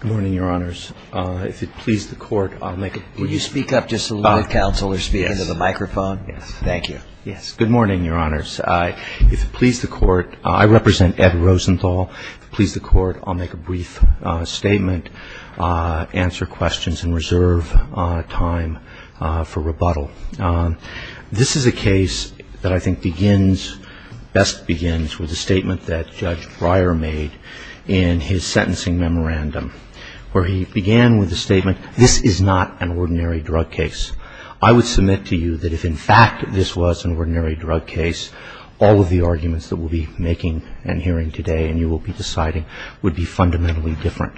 Good morning, Your Honors. I represent Ed Rosenthal. If it pleases the Court, I'll make a brief statement, answer questions, and reserve time for rebuttal. This is a case that I think best begins with a statement that Judge Breyer made in his sentencing memorandum, where he began with the statement, This is not an ordinary drug case. I would submit to you that if in fact this was an ordinary drug case, all of the arguments that we'll be making and hearing today and you will be deciding would be fundamentally different.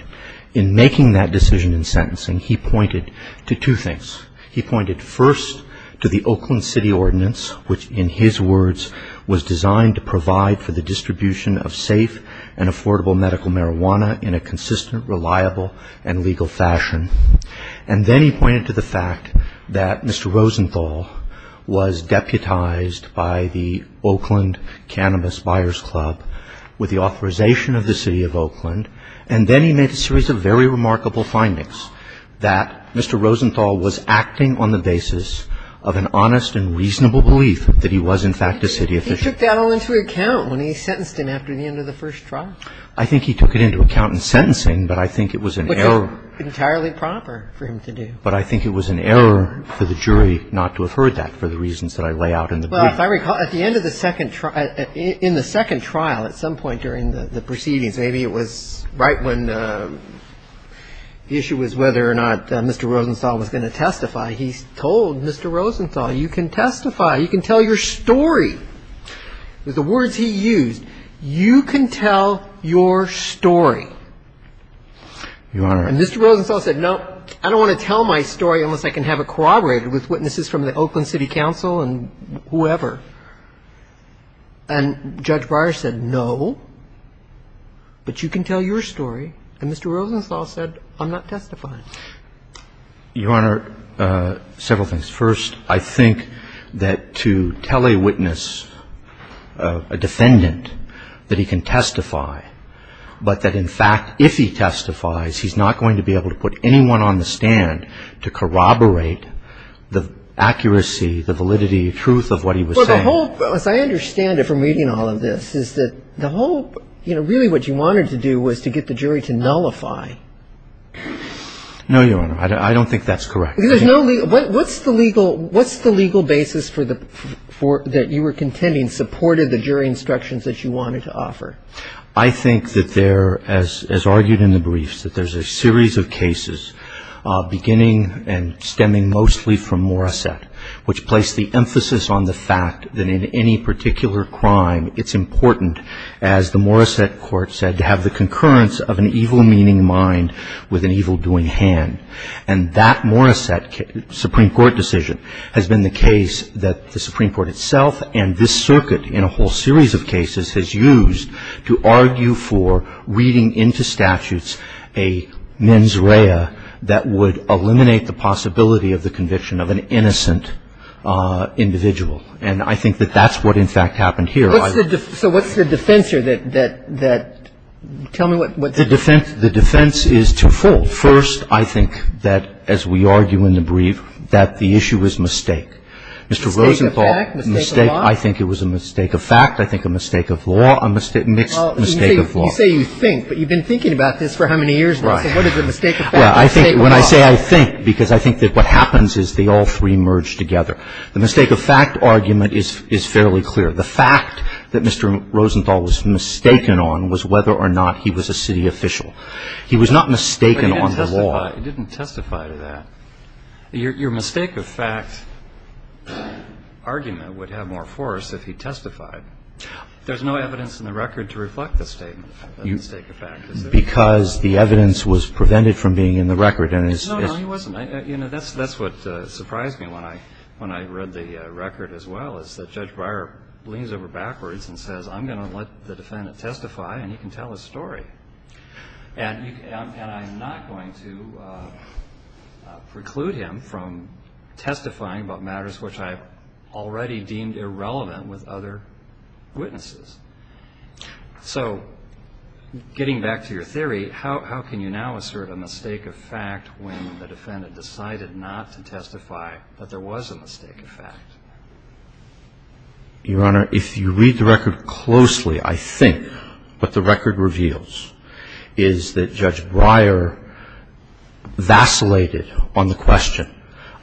In making that decision in sentencing, he pointed to two things. He pointed first to the Oakland City Ordinance, which in his words was designed to provide for the distribution of safe and affordable medical marijuana in a consistent, reliable, and legal fashion. And then he pointed to the fact that Mr. Rosenthal was deputized by the Oakland Cannabis Buyers Club with the authorization of the City of Oakland. And then he made a series of very remarkable findings, that Mr. Rosenthal was acting on the basis of an honest and reasonable belief that he was in fact a city official. And he took that all into account when he sentenced him after the end of the first trial. I think he took it into account in sentencing, but I think it was an error. Which was entirely proper for him to do. But I think it was an error for the jury not to have heard that for the reasons that I lay out in the brief. Well, if I recall, at the end of the second trial at some point during the proceedings, maybe it was right when the issue was whether or not Mr. He said, Mr. Rosenthal, you can testify. You can tell your story. The words he used, you can tell your story. And Mr. Rosenthal said, no, I don't want to tell my story unless I can have it corroborated with witnesses from the Oakland City Council and whoever. And Judge Breyer said, no, but you can tell your story. And Mr. Rosenthal said, I'm not testifying. Your Honor, several things. First, I think that to tell a witness, a defendant, that he can testify, but that in fact if he testifies, he's not going to be able to put anyone on the stand to corroborate the accuracy, the validity, the truth of what he was saying. Well, the whole, as I understand it from reading all of this, is that the whole, you know, really what you wanted to do was to get the jury to nullify. No, Your Honor. I don't think that's correct. What's the legal basis that you were contending supported the jury instructions that you wanted to offer? I think that there, as argued in the briefs, that there's a series of cases beginning and stemming mostly from Morissette, which placed the emphasis on the fact that in any particular crime it's important, as the Morissette court said, to have the concurrence of an evil-meaning mind with an evil-doing hand. And that Morissette Supreme Court decision has been the case that the Supreme Court itself and this circuit in a whole series of cases has used to argue for reading into statutes a mens rea that would eliminate the possibility of the conviction of an innocent individual. And I think that that's what, in fact, happened here. So what's the defense here? Tell me what the defense is. The defense is twofold. First, I think that, as we argue in the brief, that the issue is mistake. Mistake of fact? Mistake of law? I think it was a mistake of fact. I think a mistake of law. A mixed mistake of law. You say you think, but you've been thinking about this for how many years now? So what is a mistake of fact? A mistake of law? When I say I think, because I think that what happens is they all three merge together. The mistake of fact argument is fairly clear. The fact that Mr. Rosenthal was mistaken on was whether or not he was a city official. He was not mistaken on the law. But he didn't testify to that. Your mistake of fact argument would have more force if he testified. There's no evidence in the record to reflect the mistake of fact. Because the evidence was prevented from being in the record. No, no, he wasn't. That's what surprised me when I read the record as well, is that Judge Breyer leans over backwards and says, I'm going to let the defendant testify, and he can tell his story. And I'm not going to preclude him from testifying about matters which I've already deemed irrelevant with other witnesses. So getting back to your theory, how can you now assert a mistake of fact when the defendant decided not to testify that there was a mistake of fact? Your Honor, if you read the record closely, I think what the record reveals is that Judge Breyer vacillated on the question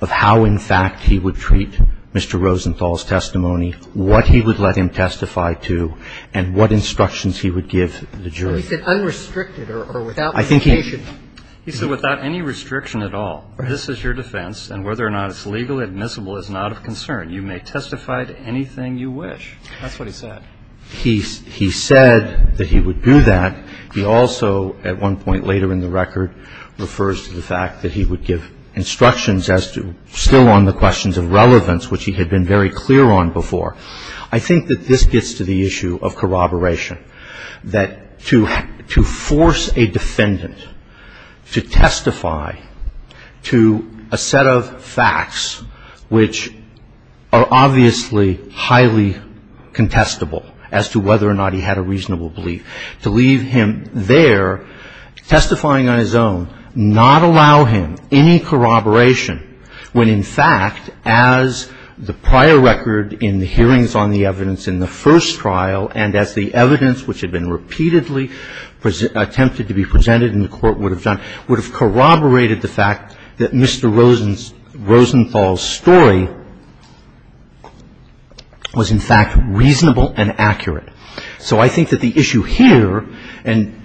of how, in fact, he would treat Mr. Rosenthal's testimony, what he would let him testify to, and what instructions he would give the jury. But he said unrestricted or without limitation. He said without any restriction at all. This is your defense, and whether or not it's legally admissible is not of concern. You may testify to anything you wish. That's what he said. He said that he would do that. He also, at one point later in the record, refers to the fact that he would give instructions as to still on the questions of relevance, which he had been very clear on before. I think that this gets to the issue of corroboration, that to force a defendant to testify to a set of facts which are obviously highly contestable as to whether or not he had a reasonable belief, to leave him there testifying on his own, not allow him any corroboration when, in fact, as the prior record in the hearings on the evidence in the first trial and as the evidence, which had been repeatedly attempted to be presented and the Court would have done, would have corroborated the fact that Mr. Rosenthal's story was, in fact, reasonable and accurate. So I think that the issue here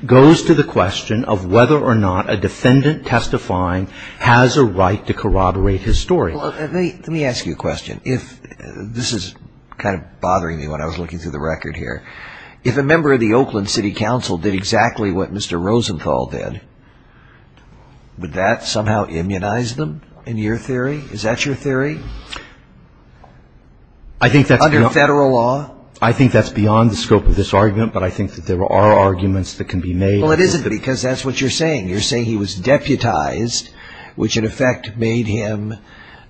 goes to the question of whether or not a defendant testifying has a right to corroborate his story. Let me ask you a question. This is kind of bothering me when I was looking through the record here. If a member of the Oakland City Council did exactly what Mr. Rosenthal did, would that somehow immunize them, in your theory? Is that your theory? Under federal law? I think that's beyond the scope of this argument, but I think that there are arguments that can be made. Well, it isn't because that's what you're saying. You're saying he was deputized, which in effect made him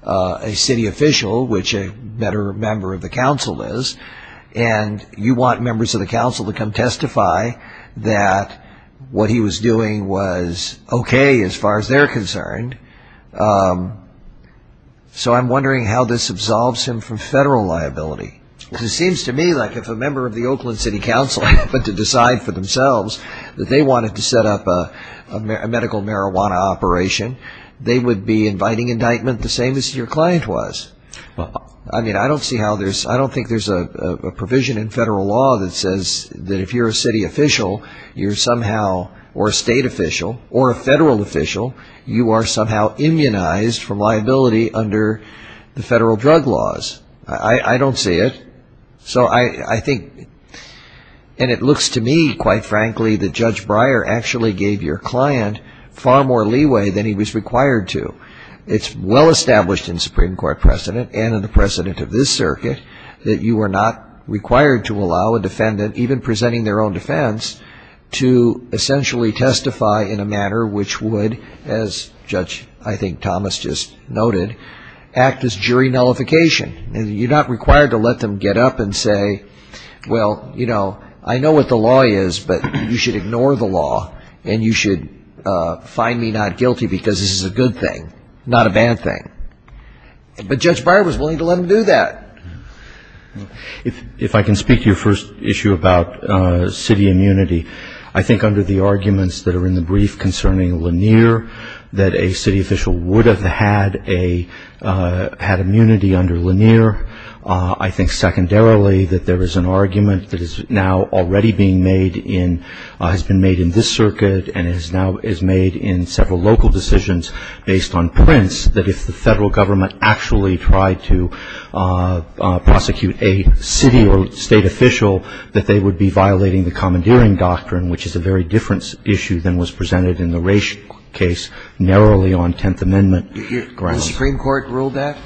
a city official, which a better member of the council is, and you want members of the council to come testify that what he was doing was okay as far as they're concerned. So I'm wondering how this absolves him from federal liability. It seems to me like if a member of the Oakland City Council happened to decide for themselves that they wanted to set up a medical marijuana operation, they would be inviting indictment the same as your client was. I don't think there's a provision in federal law that says that if you're a city official or a state official or a federal official, you are somehow immunized from liability under the federal drug laws. I don't see it. So I think, and it looks to me, quite frankly, that Judge Breyer actually gave your client far more leeway than he was required to. It's well established in Supreme Court precedent and in the precedent of this circuit that you are not required to allow a defendant, even presenting their own defense, to essentially testify in a manner which would, as Judge, I think, Thomas just noted, act as jury nullification. You're not required to let them get up and say, well, you know, I know what the law is, but you should ignore the law and you should find me not guilty because this is a good thing, not a bad thing. But Judge Breyer was willing to let them do that. If I can speak to your first issue about city immunity, I think under the arguments that are in the brief concerning Lanier that a city official would have had immunity under Lanier. I think secondarily that there is an argument that is now already being made in, has been made in this circuit and is now made in several local decisions based on prints, that if the federal government actually tried to prosecute a city or state official, that they would be violating the commandeering doctrine, which is a very different issue than was presented in the Raich case narrowly on Tenth Amendment grounds. Did the Supreme Court rule that?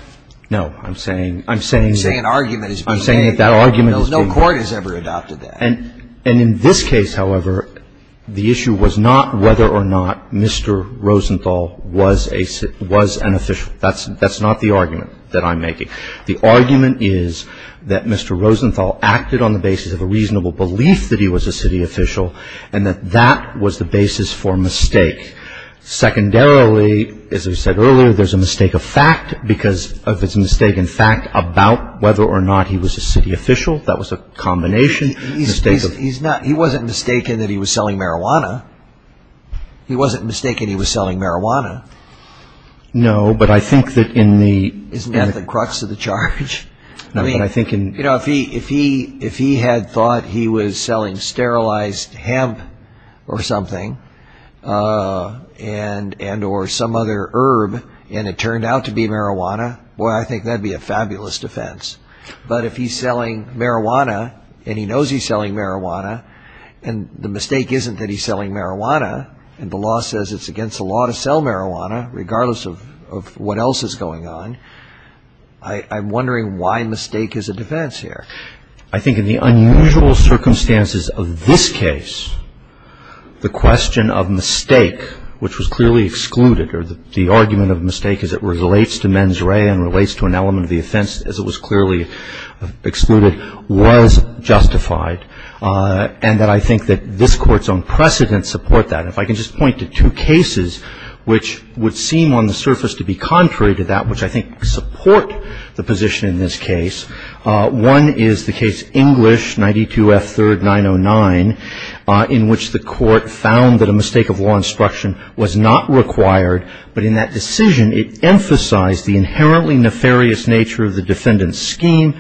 No. I'm saying that argument has been made. No court has ever adopted that. And in this case, however, the issue was not whether or not Mr. Rosenthal was an official. That's not the argument that I'm making. The argument is that Mr. Rosenthal acted on the basis of a reasonable belief that he was a city official and that that was the basis for mistake. Secondarily, as I said earlier, there's a mistake of fact because of his mistake in fact about whether or not he was a city official. That was a combination. He wasn't mistaken that he was selling marijuana. He wasn't mistaken he was selling marijuana. No, but I think that in the- I mean, if he had thought he was selling sterilized hemp or something and or some other herb and it turned out to be marijuana, well, I think that would be a fabulous defense. But if he's selling marijuana and he knows he's selling marijuana and the mistake isn't that he's selling marijuana and the law says it's against the law to sell marijuana, regardless of what else is going on, I'm wondering why mistake is a defense here. I think in the unusual circumstances of this case, the question of mistake, which was clearly excluded or the argument of mistake as it relates to mens rea and relates to an element of the offense as it was clearly excluded, was justified and that I think that this Court's own precedents support that. If I can just point to two cases which would seem on the surface to be contrary to that, which I think support the position in this case. One is the case English, 92 F. 3rd, 909, in which the Court found that a mistake of law instruction was not required, but in that decision it emphasized the inherently nefarious nature of the defendant's scheme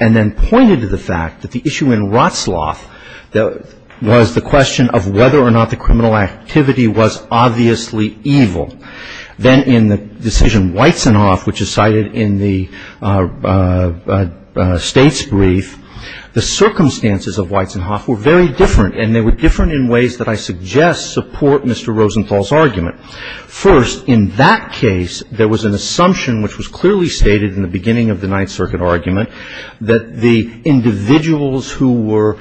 and then pointed to the fact that the issue in Rotsloff was the question of whether or not the criminal activity was obviously evil. Then in the decision Weitzenhoff, which is cited in the State's brief, the circumstances of Weitzenhoff were very different and they were different in ways that I suggest support Mr. Rosenthal's argument. First, in that case there was an assumption which was clearly stated in the beginning of the Ninth Circuit argument that the individuals who were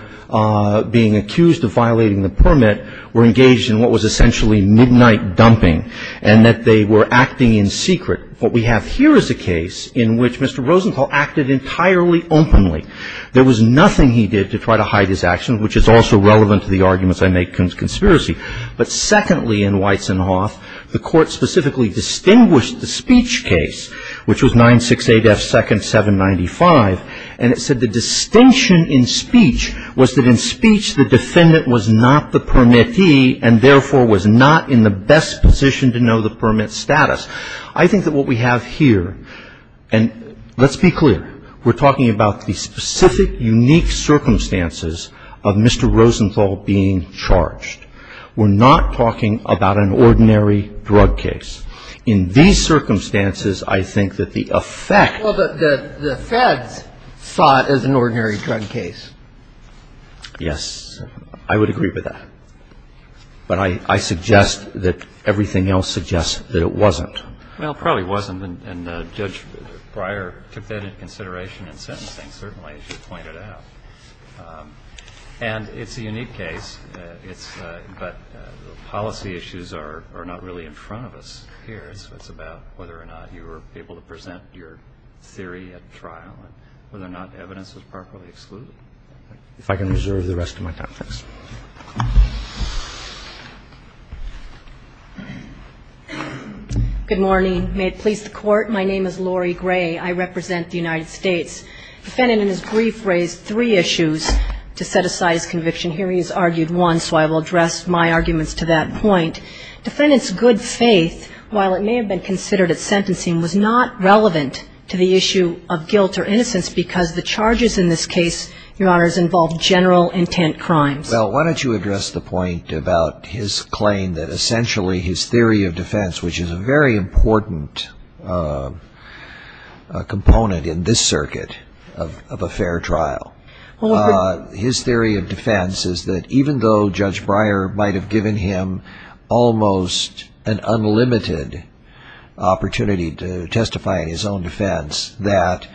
being accused of violating the permit were engaged in what was essentially midnight dumping and that they were acting in secret. What we have here is a case in which Mr. Rosenthal acted entirely openly. There was nothing he did to try to hide his actions, which is also relevant to the arguments I make against conspiracy. But secondly, in Weitzenhoff, the Court specifically distinguished the speech case, which was 968F second 795, and it said the distinction in speech was that in speech the defendant was not the permittee and therefore was not in the best position to know the permit status. I think that what we have here, and let's be clear, we're talking about the specific unique circumstances of Mr. Rosenthal being charged. We're not talking about an ordinary drug case. In these circumstances, I think that the effect of the Fed's thought is an ordinary drug case. Yes. I would agree with that. But I suggest that everything else suggests that it wasn't. Well, it probably wasn't, and Judge Breyer took that into consideration in sentencing, certainly, as you pointed out. And it's a unique case, but the policy issues are not really in front of us. It's about whether or not you were able to present your theory at trial and whether or not evidence was properly excluded. If I can reserve the rest of my time, thanks. Good morning. May it please the Court. My name is Lori Gray. I represent the United States. The defendant in his brief raised three issues to set aside his conviction. Here he has argued one, so I will address my arguments to that point. Defendant's good faith, while it may have been considered at sentencing, was not relevant to the issue of guilt or innocence because the charges in this case, Your Honors, involved general intent crimes. Well, why don't you address the point about his claim that essentially his theory of defense, which is a very important component in this circuit of a fair trial, his theory of defense is that even though Judge Breyer might have given him almost an unlimited opportunity to testify in his own defense, that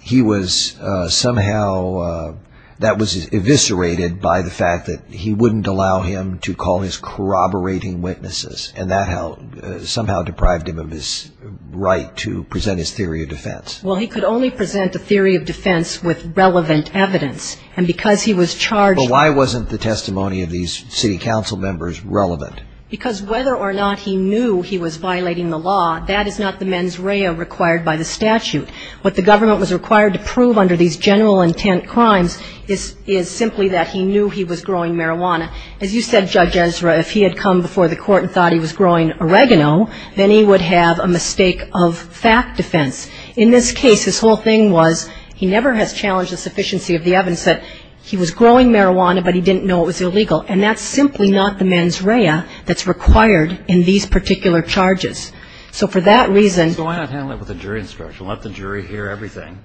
he was somehow, that was eviscerated by the fact that he wouldn't allow him to call his corroborating witnesses and that somehow deprived him of his right to present his theory of defense. Well, he could only present a theory of defense with relevant evidence. And because he was charged But why wasn't the testimony of these city council members relevant? Because whether or not he knew he was violating the law, that is not the mens rea required by the statute. What the government was required to prove under these general intent crimes is simply that he knew he was growing marijuana. As you said, Judge Ezra, if he had come before the court and thought he was growing oregano, then he would have a mistake of fact defense. In this case, his whole thing was he never has challenged the sufficiency of the evidence that he was growing marijuana, but he didn't know it was illegal. And that's simply not the mens rea that's required in these particular charges. So for that reason So why not handle it with a jury instruction? Let the jury hear everything,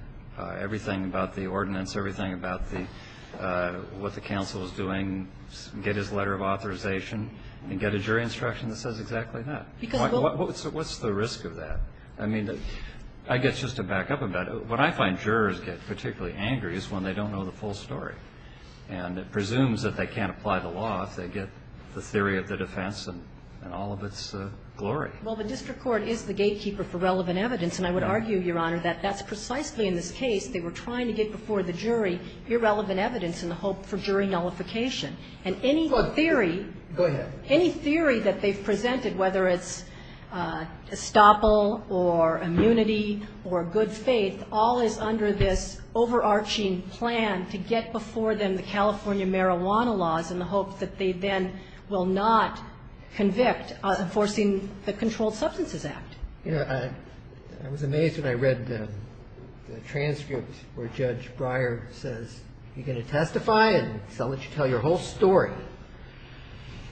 everything about the ordinance, everything about what the council is doing. Get his letter of authorization and get a jury instruction that says exactly that. What's the risk of that? I mean, I guess just to back up a bit, what I find jurors get particularly angry is when they don't know the full story. And it presumes that they can't apply the law if they get the theory of the defense and all of its glory. Well, the district court is the gatekeeper for relevant evidence. And I would argue, Your Honor, that that's precisely in this case they were trying to get before the jury irrelevant evidence in the hope for jury nullification. And any theory Go ahead. Any theory that they've presented, whether it's estoppel or immunity or good faith, all is under this overarching plan to get before them the California marijuana laws in the hope that they then will not convict enforcing the Controlled Substances Act. I was amazed when I read the transcript where Judge Breyer says, you're going to testify and I'll let you tell your whole story.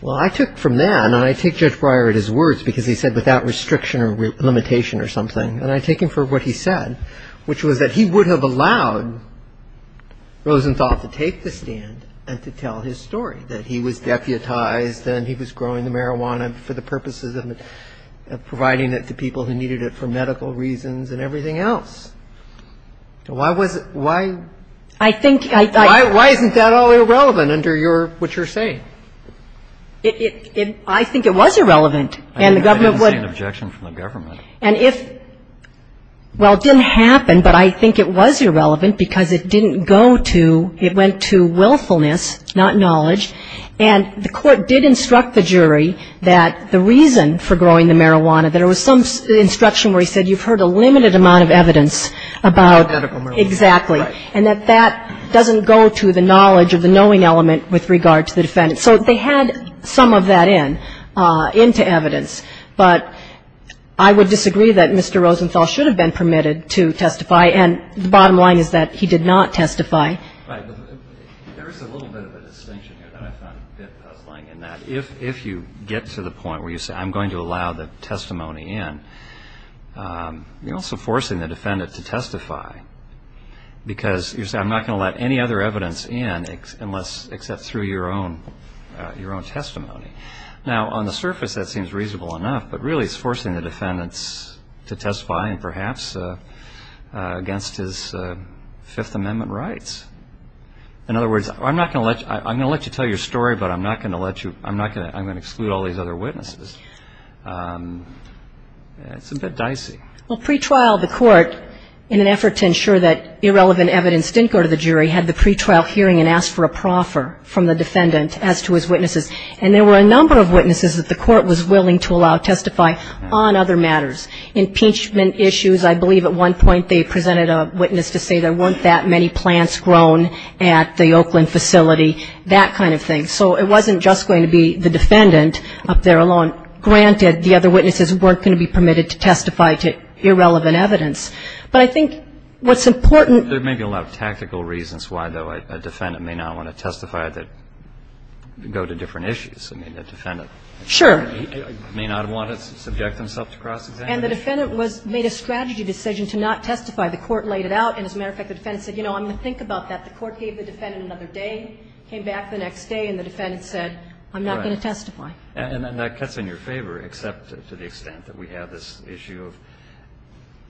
Well, I took from that, and I take Judge Breyer at his words, because he said without restriction or limitation or something. And I take him for what he said, which was that he would have allowed Rosenthal to take the stand and to tell his story, that he was deputized and he was growing the marijuana for the purposes of providing it to people who needed it for medical reasons and everything else. So why was it why I think I Why isn't that all irrelevant under what you're saying? I think it was irrelevant. I didn't see an objection from the government. Well, it didn't happen, but I think it was irrelevant because it didn't go to it went to willfulness, not knowledge. And the court did instruct the jury that the reason for growing the marijuana, there was some instruction where he said you've heard a limited amount of evidence about Medical marijuana. Exactly. And that that doesn't go to the knowledge of the knowing element with regard to the defendant. So they had some of that in, into evidence. But I would disagree that Mr. Rosenthal should have been permitted to testify, and the bottom line is that he did not testify. Right. There is a little bit of a distinction here that I found a bit puzzling, in that if you get to the point where you say I'm going to allow the testimony in, you're also forcing the defendant to testify, because you're saying I'm not going to let any other evidence in unless, except through your own testimony. Now, on the surface, that seems reasonable enough, but really it's forcing the defendants to testify, and perhaps against his Fifth Amendment rights. In other words, I'm not going to let you, I'm going to let you tell your story, but I'm not going to let you, I'm not going to, I'm going to exclude all these other witnesses. It's a bit dicey. Well, pretrial, the court, in an effort to ensure that irrelevant evidence didn't go to the jury, had the pretrial hearing and asked for a proffer from the defendant as to his witnesses, and there were a number of witnesses that the court was willing to allow testify on other matters. Impeachment issues, I believe at one point they presented a witness to say there weren't that many plants grown at the Oakland facility, that kind of thing. So it wasn't just going to be the defendant up there alone. Granted, the other witnesses weren't going to be permitted to testify to irrelevant evidence, but I think what's important. There may be a lot of tactical reasons why, though, a defendant may not want to testify that go to different issues. I mean, a defendant may not want to subject themselves to cross-examination. And the defendant made a strategy decision to not testify. The court laid it out, and as a matter of fact, the defendant said, you know, I'm going to think about that. The court gave the defendant another day, came back the next day, and the defendant said, I'm not going to testify. Right. And that cuts in your favor, except to the extent that we have this issue of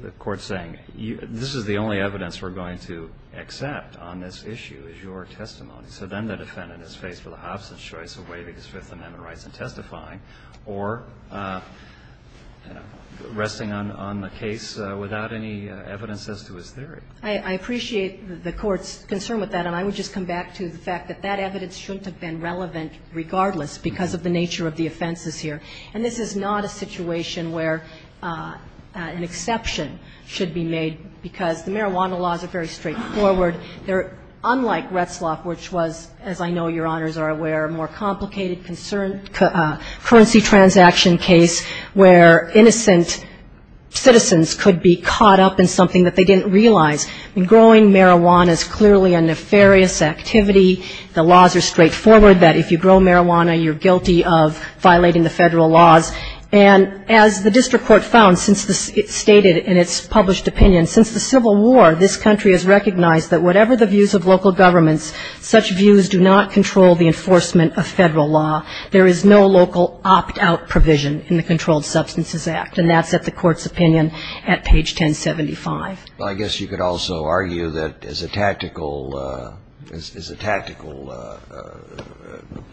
the court saying this is the only evidence we're going to accept on this issue is your testimony. So then the defendant is faced with a hobson's choice of waiving his Fifth Amendment rights and testifying or resting on the case without any evidence as to his theory. I appreciate the Court's concern with that, and I would just come back to the fact that that evidence shouldn't have been relevant regardless because of the nature of the offenses here. And this is not a situation where an exception should be made because the marijuana laws are very straightforward. They're unlike Retzlaff, which was, as I know Your Honors are aware, a more complicated currency transaction case where innocent citizens could be caught up in something that they didn't realize. I mean, growing marijuana is clearly a nefarious activity. The laws are straightforward that if you grow marijuana, you're guilty of violating the Federal laws. And as the district court found, since it stated in its published opinion, since the Civil War, this country has recognized that whatever the views of local governments, such views do not control the enforcement of Federal law. There is no local opt-out provision in the Controlled Substances Act, and that's at the Court's opinion at page 1075. Well, I guess you could also argue that as a tactical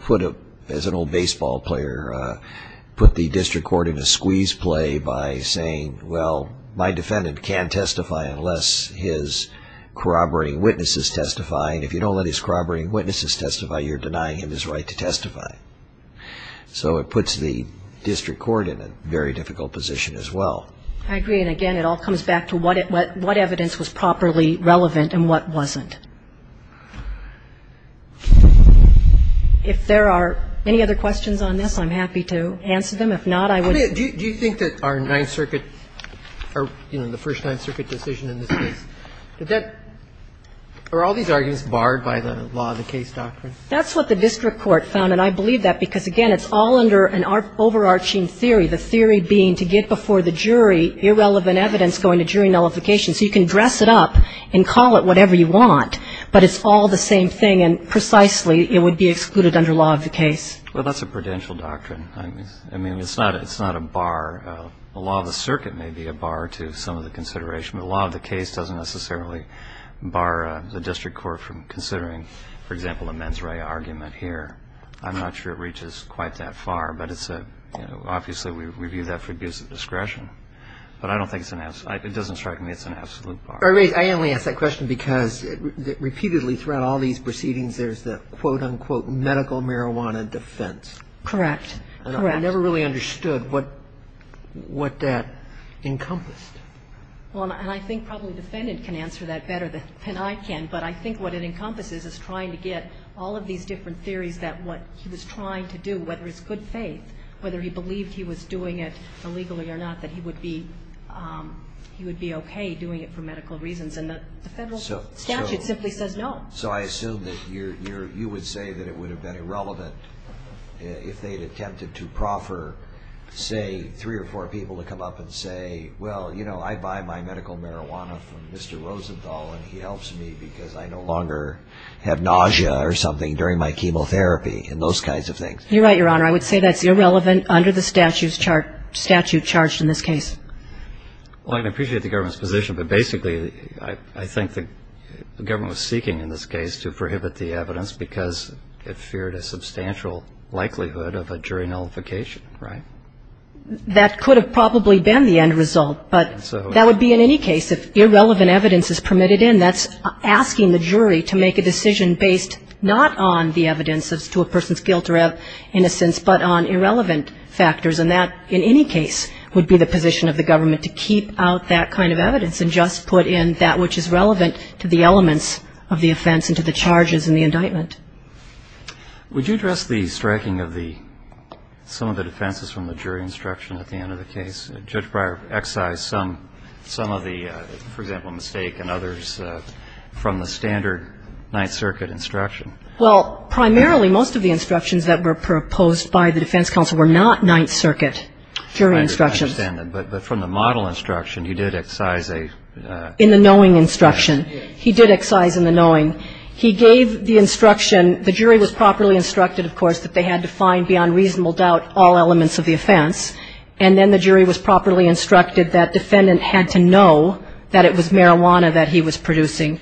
foot, as an old baseball player, put the district court in a squeeze play by saying, well, my defendant can't testify unless his corroborating witnesses testify. If you don't let his corroborating witnesses testify, you're denying him his right to testify. So it puts the district court in a very difficult position as well. I agree. And again, it all comes back to what evidence was properly relevant and what wasn't. If there are any other questions on this, I'm happy to answer them. If not, I would ---- Do you think that our Ninth Circuit or, you know, the first Ninth Circuit decision in this case, did that or are all these arguments barred by the law of the case doctrine? That's what the district court found, and I believe that because, again, it's all under an overarching theory, the theory being to get before the jury irrelevant evidence going to jury nullification. So you can dress it up and call it whatever you want, but it's all the same thing, and precisely it would be excluded under law of the case. Well, that's a prudential doctrine. I mean, it's not a bar. The law of the circuit may be a bar to some of the consideration, but the law of the case doesn't necessarily bar the district court from considering, for example, a mens rea argument here. I'm not sure it reaches quite that far, but it's a ---- you know, obviously we view that for abuse of discretion. But I don't think it's an absolute ---- it doesn't strike me it's an absolute bar. I only ask that question because repeatedly throughout all these proceedings there's the, quote, unquote, medical marijuana defense. Correct. Correct. I never really understood what that encompassed. Well, and I think probably the defendant can answer that better than I can, but I think what it encompasses is trying to get all of these different theories that what he was trying to do, whether it's good faith, whether he believed he was doing it illegally or not, that he would be okay doing it for medical reasons. And the federal statute simply says no. So I assume that you would say that it would have been irrelevant if they had attempted to proffer, say, three or four people to come up and say, well, you know, I buy my medical marijuana from Mr. Rosenthal and he helps me because I no longer have nausea or something during my chemotherapy and those kinds of things. You're right, Your Honor. I would say that's irrelevant under the statute charged in this case. Well, I appreciate the government's position, but basically I think the government was seeking in this case to prohibit the evidence because it feared a substantial likelihood of a jury nullification, right? That could have probably been the end result, but that would be in any case. If irrelevant evidence is permitted in, that's asking the jury to make a decision based not on the evidence as to a person's guilt or innocence, but on irrelevant factors. And that, in any case, would be the position of the government to keep out that kind of evidence and just put in that which is relevant to the elements of the offense and to the charges in the indictment. Would you address the striking of some of the defenses from the jury instruction at the end of the case? Judge Breyer excised some of the, for example, mistake and others from the standard Ninth Circuit instruction. Well, primarily most of the instructions that were proposed by the defense counsel were not Ninth Circuit jury instructions. I understand that. But from the model instruction, he did excise a ---- In the knowing instruction. Yes. He did excise in the knowing. He gave the instruction. The jury was properly instructed, of course, that they had to find beyond reasonable doubt all elements of the offense. And then the jury was properly instructed that defendant had to know that it was marijuana that he was producing.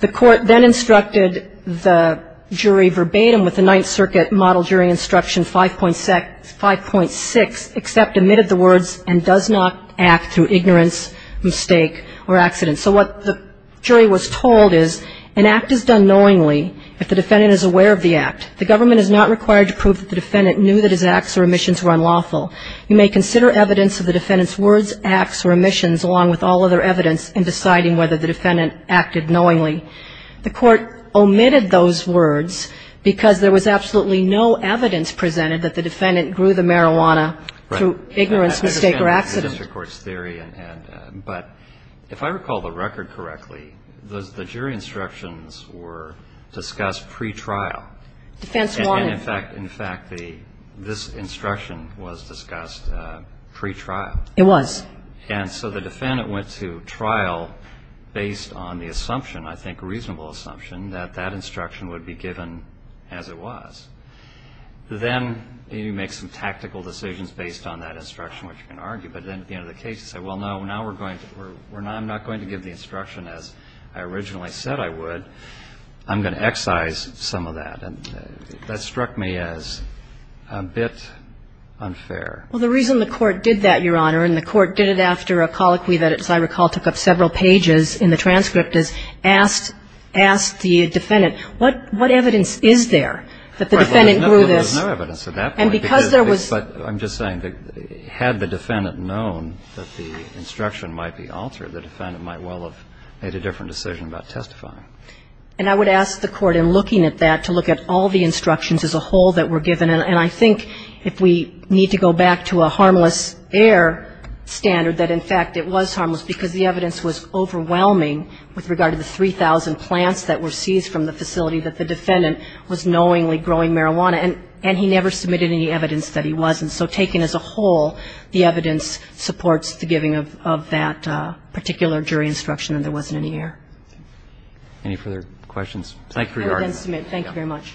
The court then instructed the jury verbatim with the Ninth Circuit model jury instruction 5.6, except admitted the words and does not act through ignorance, mistake, or accident. So what the jury was told is an act is done knowingly if the defendant is aware of the act. The government is not required to prove that the defendant knew that his acts or omissions were marijuana. You may consider evidence of the defendant's words, acts, or omissions along with all other evidence in deciding whether the defendant acted knowingly. The court omitted those words because there was absolutely no evidence presented that the defendant grew the marijuana through ignorance, mistake, or accident. Right. I understand the district court's theory, but if I recall the record correctly, the jury instructions were discussed pretrial. Defense wanted. And, in fact, this instruction was discussed pretrial. It was. And so the defendant went to trial based on the assumption, I think reasonable assumption, that that instruction would be given as it was. Then you make some tactical decisions based on that instruction, which you can argue, but then at the end of the case you say, well, no, now we're going to, I'm not going to give the instruction as I originally said I would. I'm going to excise some of that. And that struck me as a bit unfair. Well, the reason the court did that, Your Honor, and the court did it after a colloquy that, as I recall, took up several pages in the transcript, is asked the defendant, what evidence is there that the defendant grew this? Well, there was no evidence at that point. And because there was. But I'm just saying that had the defendant known that the instruction might be altered, the defendant might well have made a different decision about testifying. And I would ask the court in looking at that to look at all the instructions as a whole that were given. And I think if we need to go back to a harmless air standard, that in fact it was harmless because the evidence was overwhelming with regard to the 3,000 plants that were seized from the facility that the defendant was knowingly growing marijuana. And he never submitted any evidence that he wasn't. And so taken as a whole, the evidence supports the giving of that particular jury instruction and there wasn't any air. Any further questions? Thank you, Your Honor. I would then submit. Thank you very much.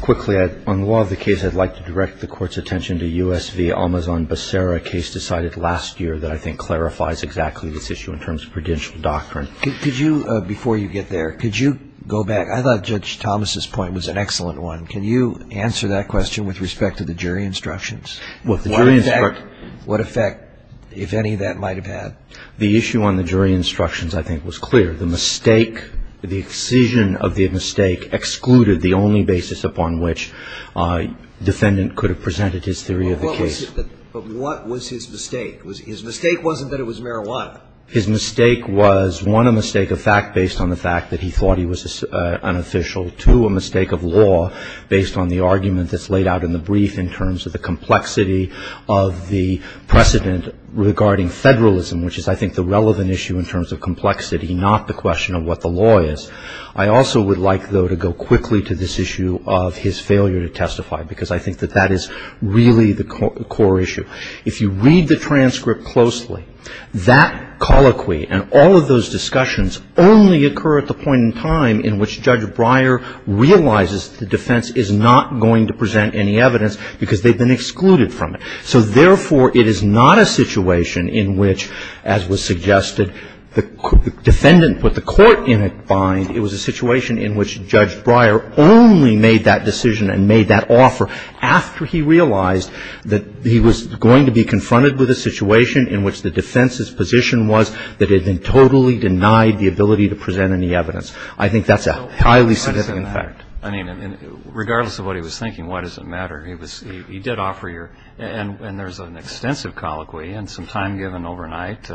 Quickly, on the law of the case, I'd like to direct the Court's attention to U.S. v. Almazan-Bacera, a case decided last year that I think clarifies exactly this issue in terms of prudential doctrine. Could you, before you get there, could you go back? I thought Judge Thomas' point was an excellent one. Can you answer that question with respect to the jury instructions? What effect, if any, that might have had? The issue on the jury instructions, I think, was clear. The mistake, the excision of the mistake, excluded the only basis upon which the defendant could have presented his theory of the case. But what was his mistake? His mistake wasn't that it was marijuana. His mistake was, one, a mistake of fact based on the fact that he thought he was an official, two, a mistake of law based on the argument that's laid out in the brief in terms of the complexity of the precedent regarding federalism, which is I think the relevant issue in terms of complexity, not the question of what the law is. I also would like, though, to go quickly to this issue of his failure to testify because I think that that is really the core issue. If you read the transcript closely, that colloquy and all of those discussions only occur at the point in time in which Judge Breyer realizes the defense is not going to present any evidence because they've been excluded from it. So, therefore, it is not a situation in which, as was suggested, the defendant put the court in a bind. It was a situation in which Judge Breyer only made that decision and made that offer after he realized that he was going to be confronted with a situation in which the defense's position was that it had been totally denied the ability to present any evidence. I think that's a highly significant fact. I mean, regardless of what he was thinking, why does it matter? He did offer your – and there's an extensive colloquy and some time given overnight.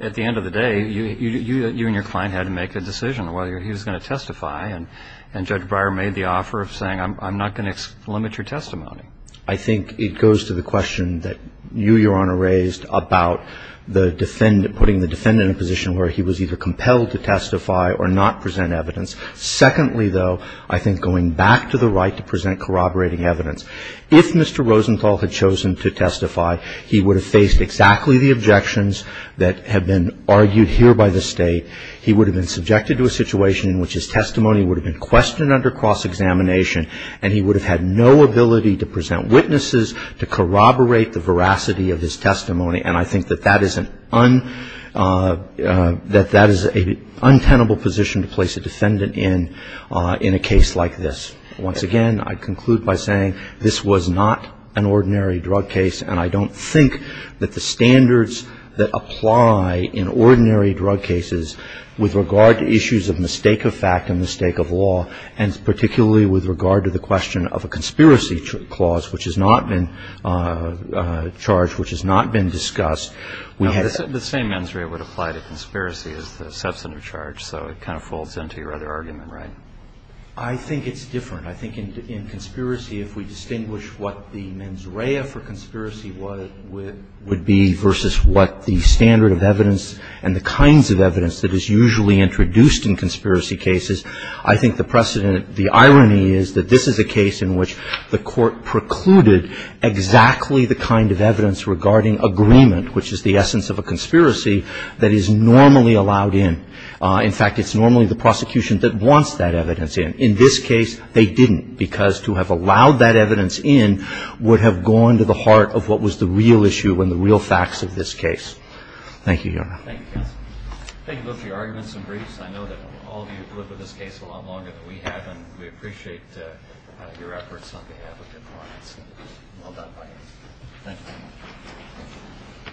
At the end of the day, you and your client had to make a decision on whether he was going to testify. And Judge Breyer made the offer of saying, I'm not going to limit your testimony. I think it goes to the question that you, Your Honor, raised about the defendant – putting the defendant in a position where he was either compelled to testify or not present evidence. Secondly, though, I think going back to the right to present corroborating evidence, if Mr. Rosenthal had chosen to testify, he would have faced exactly the objections that have been argued here by the State. He would have been subjected to a situation in which his testimony would have been questioned under cross-examination and he would have had no ability to present witnesses to corroborate the veracity of his testimony. And I think that that is an – that that is an untenable position to place a defendant in in a case like this. Once again, I conclude by saying this was not an ordinary drug case, and I don't think that the standards that apply in ordinary drug cases with regard to issues of mistake of fact and mistake of law, and particularly with regard to the question of a conspiracy clause which has not been charged, which has not been discussed, we have – The same mens rea would apply to conspiracy as the substantive charge, so it kind of folds into your other argument, right? I think it's different. I think in conspiracy, if we distinguish what the mens rea for conspiracy would be versus what the standard of evidence and the kinds of evidence that is usually introduced in conspiracy cases, I think the precedent – the irony is that this is a case in which the Court precluded exactly the kind of evidence regarding agreement, which is the essence of a conspiracy, that is normally allowed in. In fact, it's normally the prosecution that wants that evidence in. In this case, they didn't because to have allowed that evidence in would have gone to the heart of what was the real issue and the real facts of this case. Thank you, Your Honor. Thank you, counsel. Thank you both for your arguments and briefs. I know that all of you have lived with this case a lot longer than we have, and we appreciate your efforts on behalf of the clients. Well done by you. Thank you.